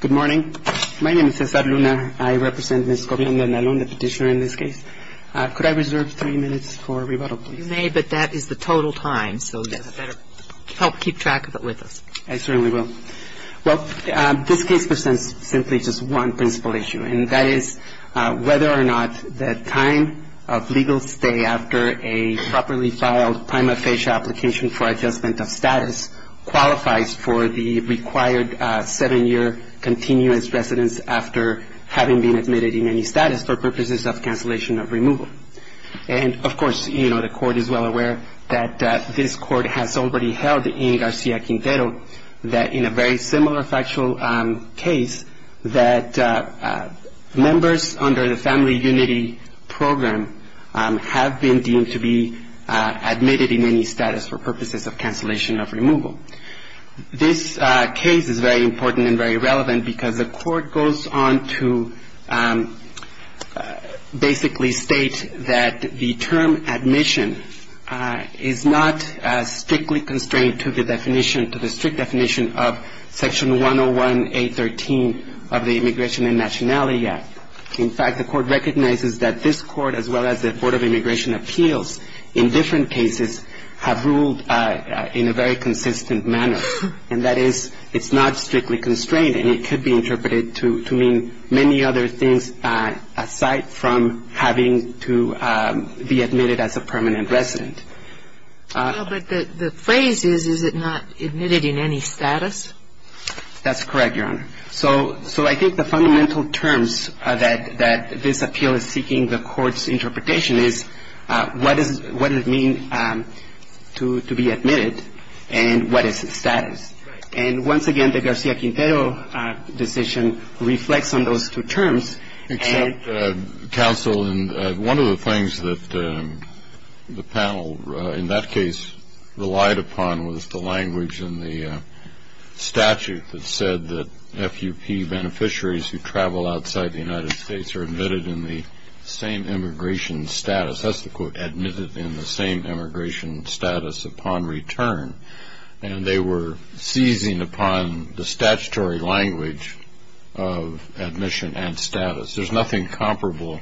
Good morning. My name is Cesar Luna. I represent Ms. Gobian-Andalon, the petitioner in this case. Could I reserve three minutes for rebuttal, please? You may, but that is the total time, so you'd better help keep track of it with us. I certainly will. Well, this case presents simply just one principal issue, and that is whether or not the time of legal stay after a properly filed prima facie application for adjustment of status qualifies for the required seven-year continuous residence after having been admitted in any status for purposes of cancellation of removal. And, of course, the Court is well aware that this Court has already held in Garcia-Quintero that in a very similar factual case, that members under the Family Unity Program have been deemed to be admitted in any status for purposes of cancellation of removal. This case is very important and very relevant because the Court goes on to basically state that the term admission is not strictly constrained to the definition, to the strict definition of Section 101A.13 of the Immigration and Nationality Act. In fact, the Court recognizes that this Court, as well as the Board of Immigration Appeals in different cases, have ruled in a very consistent manner, and that is it's not strictly constrained, and it could be interpreted to mean many other things aside from having to be admitted as a permanent resident. Well, but the phrase is, is it not admitted in any status? That's correct, Your Honor. So I think the fundamental terms that this appeal is seeking the Court's interpretation is, what does it mean to be admitted, and what is its status? And once again, the Garcia-Quintero decision reflects on those two terms. Except, counsel, one of the things that the panel in that case relied upon was the language in the statute that said that FUP beneficiaries who travel outside the United States are admitted in the same immigration status. That's the quote, admitted in the same immigration status upon return. And they were seizing upon the statutory language of admission and status. There's nothing comparable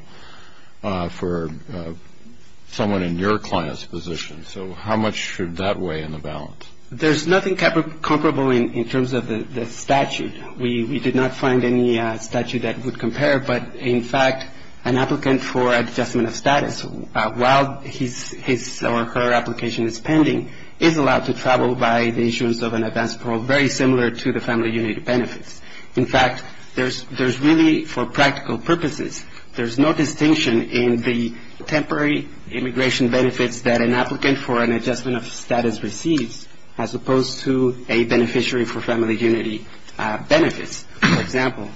for someone in your client's position. So how much should that weigh in the balance? There's nothing comparable in terms of the statute. We did not find any statute that would compare. But, in fact, an applicant for adjustment of status, while his or her application is pending, is allowed to travel by the issuance of an advance parole very similar to the family unity benefits. In fact, there's really, for practical purposes, there's no distinction in the temporary immigration benefits that an applicant for an adjustment of status receives, as opposed to a beneficiary for family unity benefits, for example.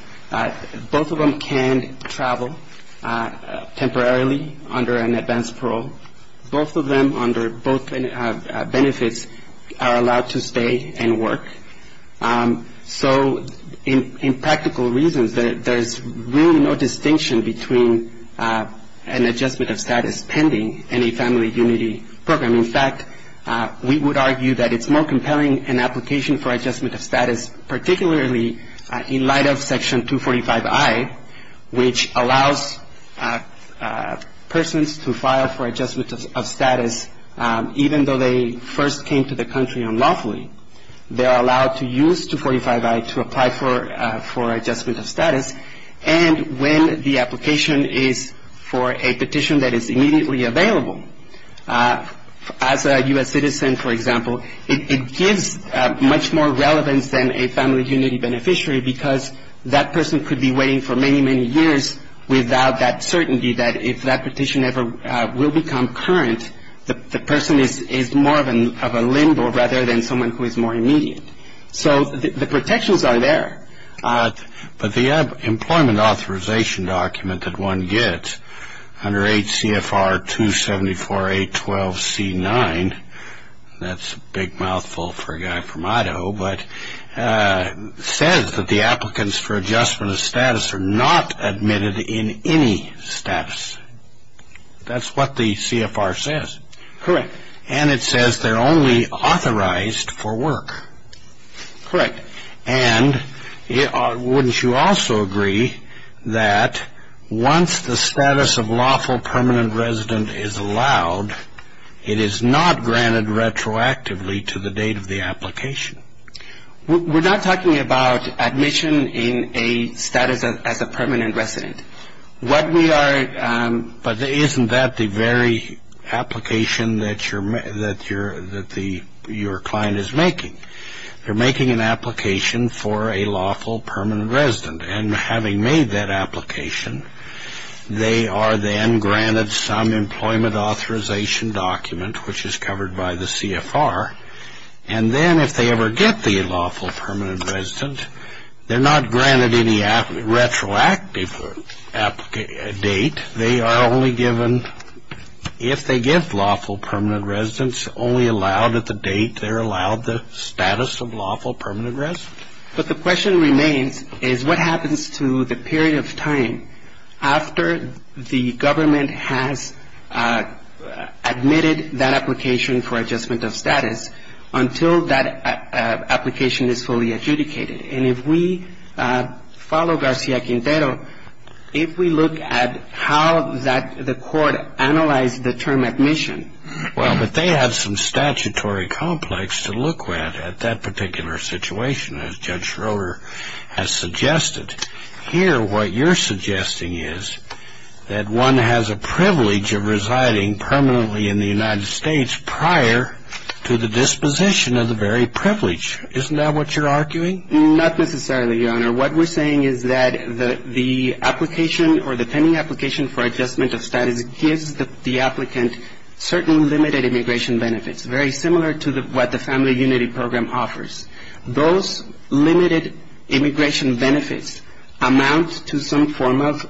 Both of them can travel temporarily under an advance parole. Both of them, under both benefits, are allowed to stay and work. So in practical reasons, there's really no distinction between an adjustment of status pending and a family unity program. In fact, we would argue that it's more compelling an application for adjustment of status, particularly in light of Section 245I, which allows persons to file for adjustment of status, even though they first came to the country unlawfully. They're allowed to use 245I to apply for adjustment of status. And when the application is for a petition that is immediately available, as a U.S. citizen, for example, it gives much more relevance than a family unity beneficiary because that person could be waiting for many, many years without that certainty that if that petition ever will become current, the person is more of a limbo rather than someone who is more immediate. So the protections are there. But the employment authorization document that one gets under H.C.F.R. 274812C9, that's a big mouthful for a guy from Idaho, but says that the applicants for adjustment of status are not admitted in any status. That's what the C.F.R. says. Correct. And it says they're only authorized for work. Correct. And wouldn't you also agree that once the status of lawful permanent resident is allowed, it is not granted retroactively to the date of the application? We're not talking about admission in a status as a permanent resident. What we are... But isn't that the very application that your client is making? They're making an application for a lawful permanent resident, and having made that application, they are then granted some employment authorization document, which is covered by the C.F.R., and then if they ever get the lawful permanent resident, they're not granted any retroactive date. They are only given, if they get lawful permanent residents, only allowed at the date they're allowed the status of lawful permanent resident? But the question remains is what happens to the period of time after the government has admitted that application for adjustment of status until that application is fully adjudicated? And if we follow Garcia Quintero, if we look at how the court analyzed the term admission... Well, but they have some statutory complex to look at at that particular situation, as Judge Schroeder has suggested. Here, what you're suggesting is that one has a privilege of residing permanently in the United States prior to the disposition of the very privilege. Isn't that what you're arguing? Not necessarily, Your Honor. What we're saying is that the application or the pending application for adjustment of status gives the applicant certain limited immigration benefits, very similar to what the Family Unity Program offers. Those limited immigration benefits amount to some form of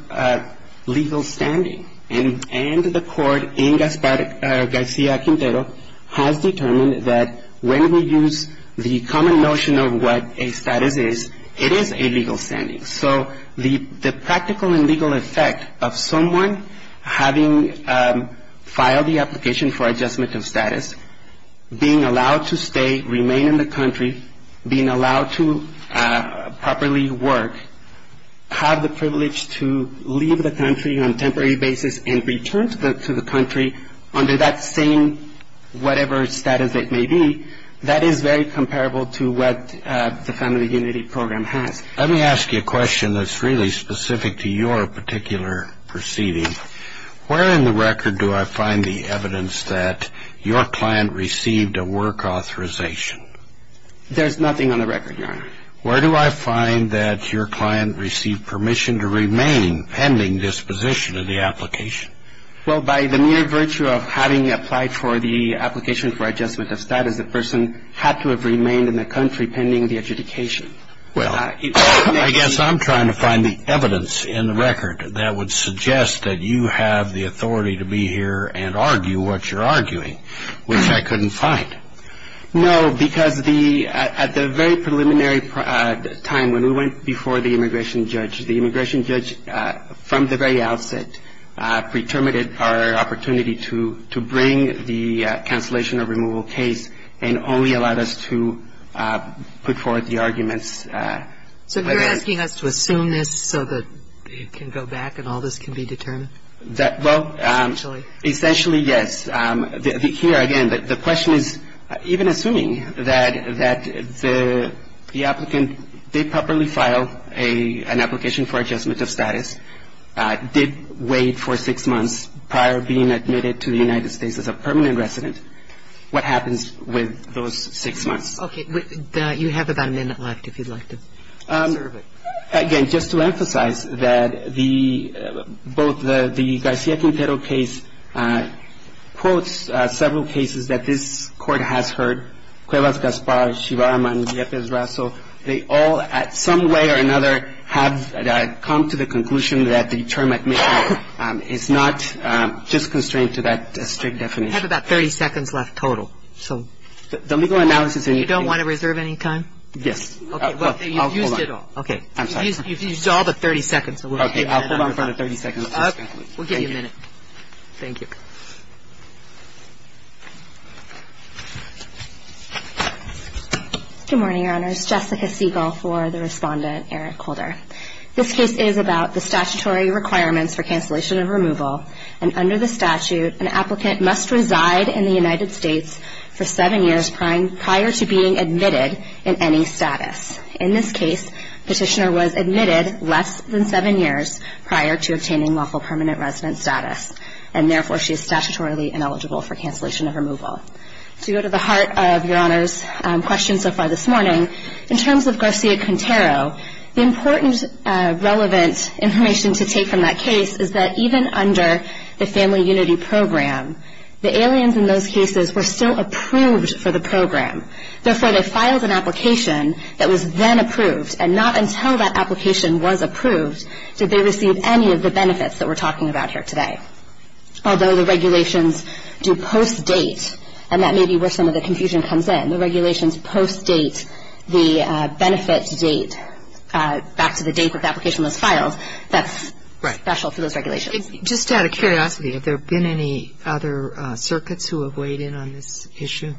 legal standing, and the court in Garcia Quintero has determined that when we use the common notion of what a status is, it is a legal standing. So the practical and legal effect of someone having filed the application for adjustment of status, being allowed to stay, remain in the country, being allowed to properly work, have the privilege to leave the country on a temporary basis and return to the country under that same whatever status it may be, that is very comparable to what the Family Unity Program has. Let me ask you a question that's really specific to your particular proceeding. Where in the record do I find the evidence that your client received a work authorization? Where do I find that your client received permission to remain pending disposition of the application? Well, by the mere virtue of having applied for the application for adjustment of status, the person had to have remained in the country pending the adjudication. Well, I guess I'm trying to find the evidence in the record that would suggest that you have the authority to be here and argue what you're arguing, which I couldn't find. No, because at the very preliminary time when we went before the immigration judge, the immigration judge, from the very outset, preterminated our opportunity to bring the cancellation or removal case and only allowed us to put forward the arguments. So you're asking us to assume this so that it can go back and all this can be determined? Well, essentially, yes. Here, again, the question is even assuming that the applicant did properly file an application for adjustment of status, did wait for six months prior to being admitted to the United States as a permanent resident, what happens with those six months? Okay. You have about a minute left if you'd like to serve it. Again, just to emphasize that the both the García Quintero case quotes several cases that this Court has heard, Cuevas, Gaspar, Chivarama, and Yepes-Raso. They all, at some way or another, have come to the conclusion that the term admission is not just constrained to that strict definition. You have about 30 seconds left total. So the legal analysis and you don't want to reserve any time? Yes. Okay. You've used it all. Okay. I'm sorry. You've used all but 30 seconds. Okay. I'll hold on for another 30 seconds. We'll give you a minute. Thank you. Good morning, Your Honors. Jessica Siegel for the Respondent, Eric Holder. This case is about the statutory requirements for cancellation of removal. And under the statute, an applicant must reside in the United States for seven years prior to being admitted in any status. In this case, the petitioner was admitted less than seven years prior to obtaining lawful permanent resident status. And, therefore, she is statutorily ineligible for cancellation of removal. To go to the heart of Your Honor's question so far this morning, in terms of García Quintero, the important relevant information to take from that case is that even under the Family Unity Program, the aliens in those cases were still approved for the program. Therefore, they filed an application that was then approved, and not until that application was approved did they receive any of the benefits that we're talking about here today. Although the regulations do post-date, and that may be where some of the confusion comes in, the regulations post-date the benefit date back to the date that the application was filed. That's special for those regulations. Just out of curiosity, have there been any other circuits who have weighed in on this issue?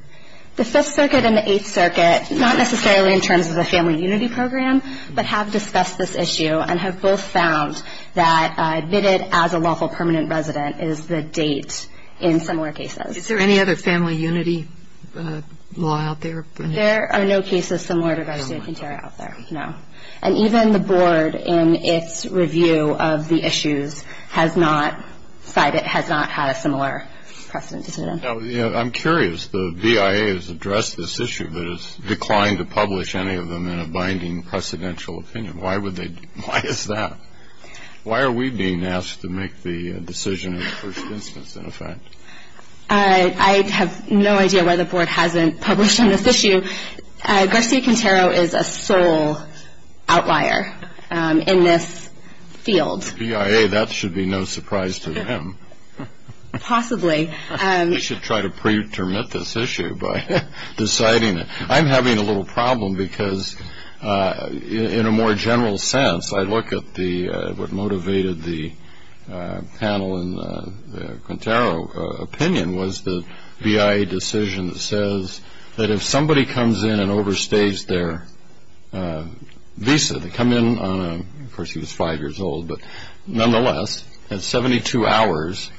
The Fifth Circuit and the Eighth Circuit, not necessarily in terms of the Family Unity Program, but have discussed this issue and have both found that admitted as a lawful permanent resident is the date in similar cases. Is there any other Family Unity law out there? There are no cases similar to García Quintero out there, no. And even the Board, in its review of the issues, has not had a similar precedent. I'm curious. The BIA has addressed this issue, but has declined to publish any of them in a binding precedential opinion. Why is that? Why are we being asked to make the decision in the first instance, in effect? I have no idea why the Board hasn't published on this issue. García Quintero is a sole outlier in this field. BIA, that should be no surprise to them. Possibly. We should try to pre-termit this issue by deciding it. I'm having a little problem because, in a more general sense, I look at what motivated the panel in the Quintero opinion was the BIA decision that says that if somebody comes in and overstays their visa, they come in on a, of course he was five years old, but nonetheless, at 72 hours,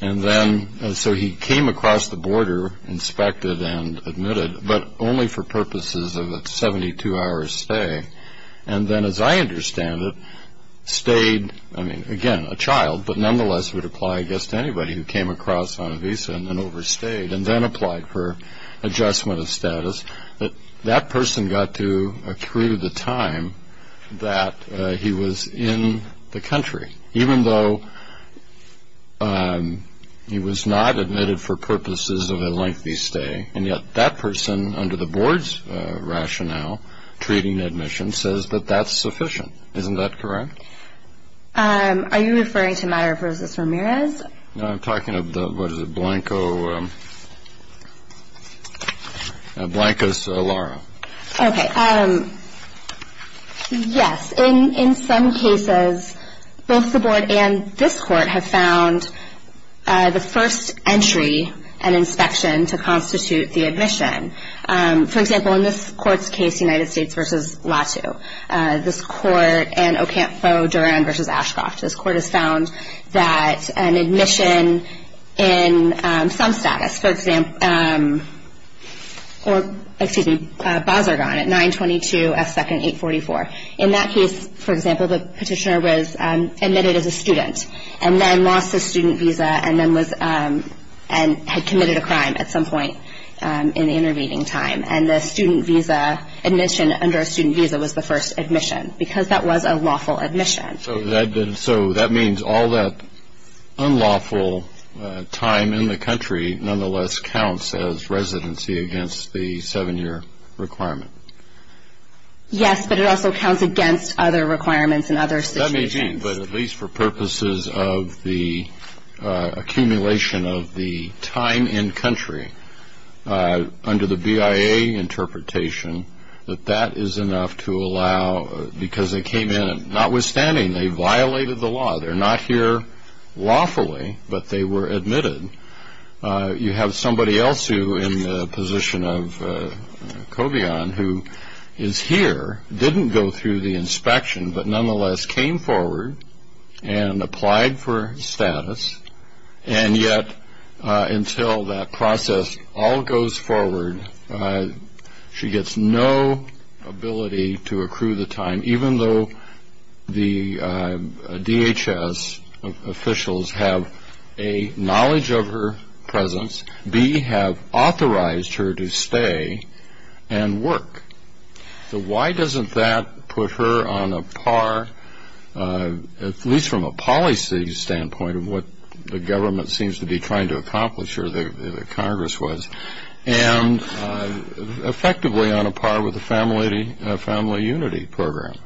and then, so he came across the border, inspected and admitted, but only for purposes of a 72-hour stay. And then, as I understand it, stayed, I mean, again, a child, but nonetheless would apply, I guess, to anybody who came across on a visa and then overstayed, and then applied for adjustment of status. That person got to accrue the time that he was in the country, even though he was not admitted for purposes of a lengthy stay, and yet that person, under the Board's rationale, treating admission, says that that's sufficient. Isn't that correct? Are you referring to a matter of versus Ramirez? No, I'm talking about, what is it, Blanco's Lara. Okay. Yes. In some cases, both the Board and this Court have found the first entry and inspection to constitute the admission. For example, in this Court's case, United States v. Latu, this Court and Ocampo-Durham v. Ashcroft, this Court has found that an admission in some status, for example, or, excuse me, Bazargan at 922S2nd 844. In that case, for example, the petitioner was admitted as a student and then lost his student visa and then was, and had committed a crime at some point in the intervening time, and the student visa admission under a student visa was the first admission because that was a lawful admission. So that means all that unlawful time in the country, nonetheless, counts as residency against the 7-year requirement. Yes, but it also counts against other requirements in other situations. That may be, but at least for purposes of the accumulation of the time in country, under the BIA interpretation, that that is enough to allow, because they came in and, notwithstanding, they violated the law, they're not here lawfully, but they were admitted. You have somebody else who, in the position of Cobion, who is here, didn't go through the inspection, but nonetheless came forward and applied for status. And yet, until that process all goes forward, she gets no ability to accrue the time, even though the DHS officials have, A, knowledge of her presence, B, have authorized her to stay and work. So why doesn't that put her on a par, at least from a policy standpoint, of what the government seems to be trying to accomplish, or the Congress was, and effectively on a par with the Family Unity Program?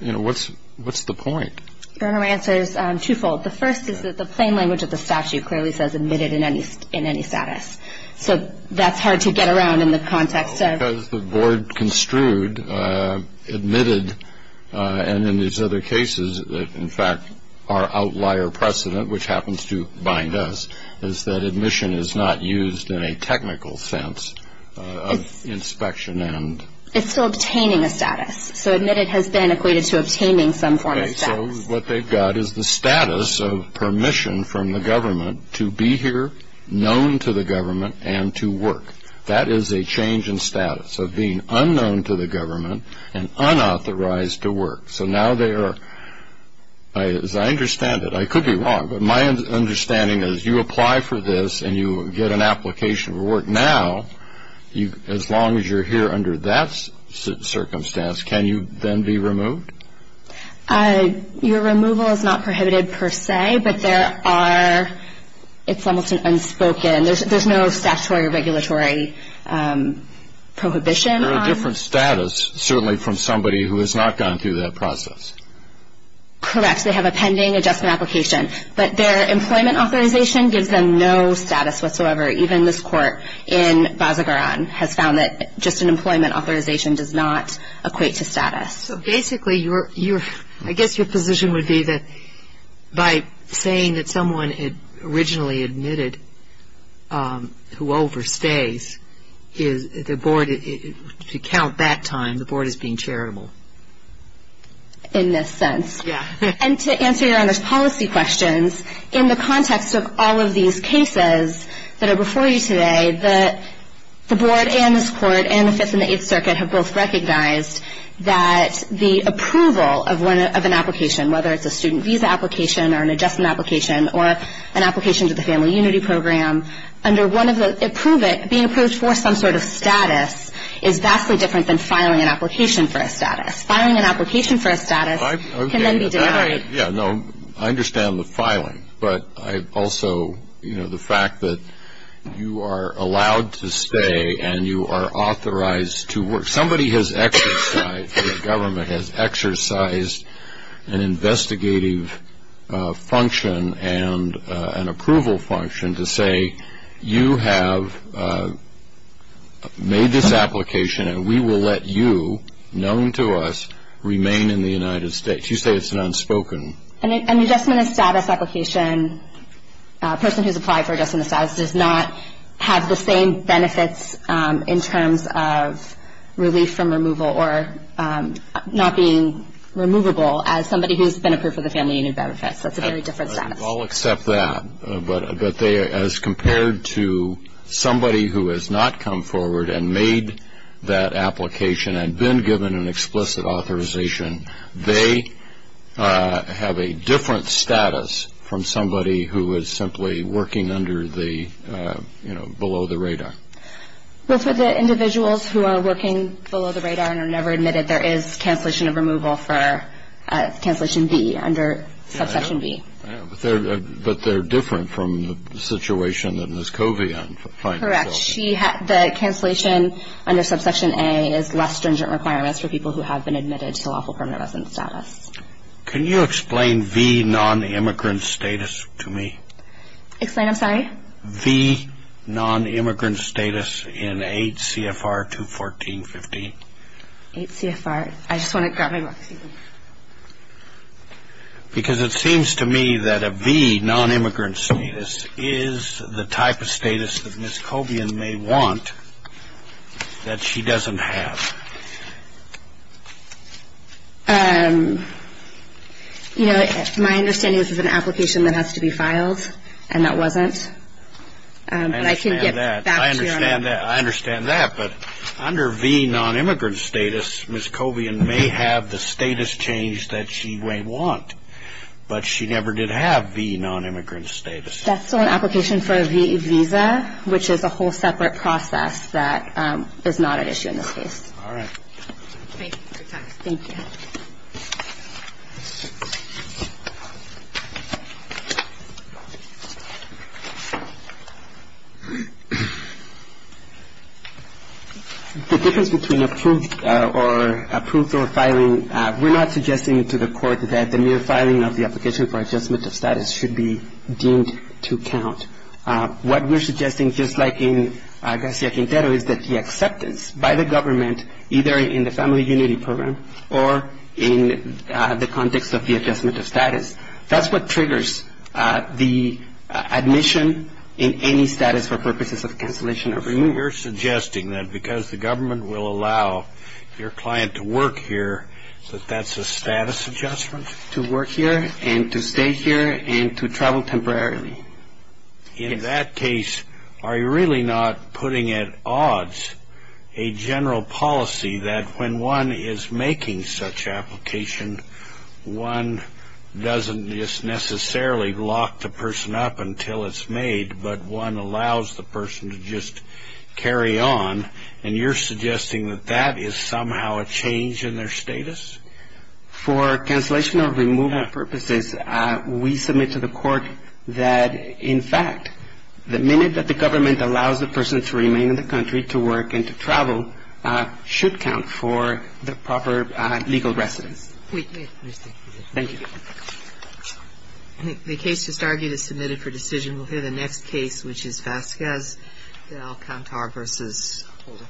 You know, what's the point? Your Honor, my answer is twofold. The first is that the plain language of the statute clearly says admitted in any status. So that's hard to get around in the context of Because the board construed admitted, and in these other cases, in fact, our outlier precedent, which happens to bind us, is that admission is not used in a technical sense of inspection and It's still obtaining a status. So admitted has been equated to obtaining some form of status. So what they've got is the status of permission from the government to be here, known to the government, and to work. That is a change in status of being unknown to the government and unauthorized to work. So now they are, as I understand it, I could be wrong, but my understanding is you apply for this and you get an application for work now, as long as you're here under that circumstance, can you then be removed? Your removal is not prohibited per se, but there are, it's almost an unspoken, there's no statutory or regulatory prohibition on There are different status, certainly from somebody who has not gone through that process. Correct. They have a pending adjustment application. But their employment authorization gives them no status whatsoever. Even this court in Bazagaran has found that just an employment authorization does not equate to status. So basically, I guess your position would be that by saying that someone had originally admitted who overstays, the board, to count that time, the board is being charitable. In this sense. Yeah. And to answer Your Honor's policy questions, in the context of all of these cases that are before you today, the board and this court and the Fifth and the Eighth Circuit have both recognized that the approval of an application, whether it's a student visa application or an adjustment application or an application to the family unity program, under one of the, being approved for some sort of status is vastly different than filing an application for a status. Filing an application for a status can then be denied. Yeah, no, I understand the filing. But I also, you know, the fact that you are allowed to stay and you are authorized to work. Somebody has exercised, the government has exercised an investigative function and an approval function to say you have made this application and we will let you, known to us, remain in the United States. You say it's an unspoken. An adjustment of status application, a person who has applied for adjustment of status, does not have the same benefits in terms of relief from removal or not being removable as somebody who has been approved for the family unit benefits. That's a very different status. I'll accept that. But as compared to somebody who has not come forward and made that application and been given an explicit authorization, they have a different status from somebody who is simply working under the, you know, below the radar. Those are the individuals who are working below the radar and are never admitted there is cancellation of removal for cancellation B, under subsection B. But they're different from the situation that Ms. Kovian filed. Correct. The cancellation under subsection A is less stringent requirements for people who have been admitted to lawful permanent residence status. Can you explain V non-immigrant status to me? Explain, I'm sorry? V non-immigrant status in 8 CFR 214.15. 8 CFR. I just want to grab my book. Because it seems to me that a V non-immigrant status is the type of status that Ms. Kovian may want that she doesn't have. You know, my understanding is it's an application that has to be filed, and that wasn't. But I can get back to you on that. I understand that. I understand that. But under V non-immigrant status, Ms. Kovian may have the status change that she may want, but she never did have V non-immigrant status. That's still an application for a V visa, which is a whole separate process that is not an issue in this case. All right. Thank you. Good talk. Thank you. The difference between approved or approved or filing, we're not suggesting to the court that the mere filing of the application for adjustment of status should be deemed to count. What we're suggesting, just like in Garcia Quintero, is that the acceptance by the government either in the Family Unity Program or in the context of the adjustment of status, that's what triggers the admission in any status for purposes of cancellation or removal. You're suggesting that because the government will allow your client to work here, that that's a status adjustment? To work here and to stay here and to travel temporarily. In that case, are you really not putting at odds a general policy that when one is making such application, one doesn't just necessarily lock the person up until it's made, but one allows the person to just carry on, and you're suggesting that that is somehow a change in their status? For cancellation or removal purposes, we submit to the court that, in fact, the minute that the government allows the person to remain in the country to work and to travel should count for the proper legal residence. Thank you. Thank you. The case just argued is submitted for decision. We'll hear the next case, which is Vasquez, Alcantara v. Holder.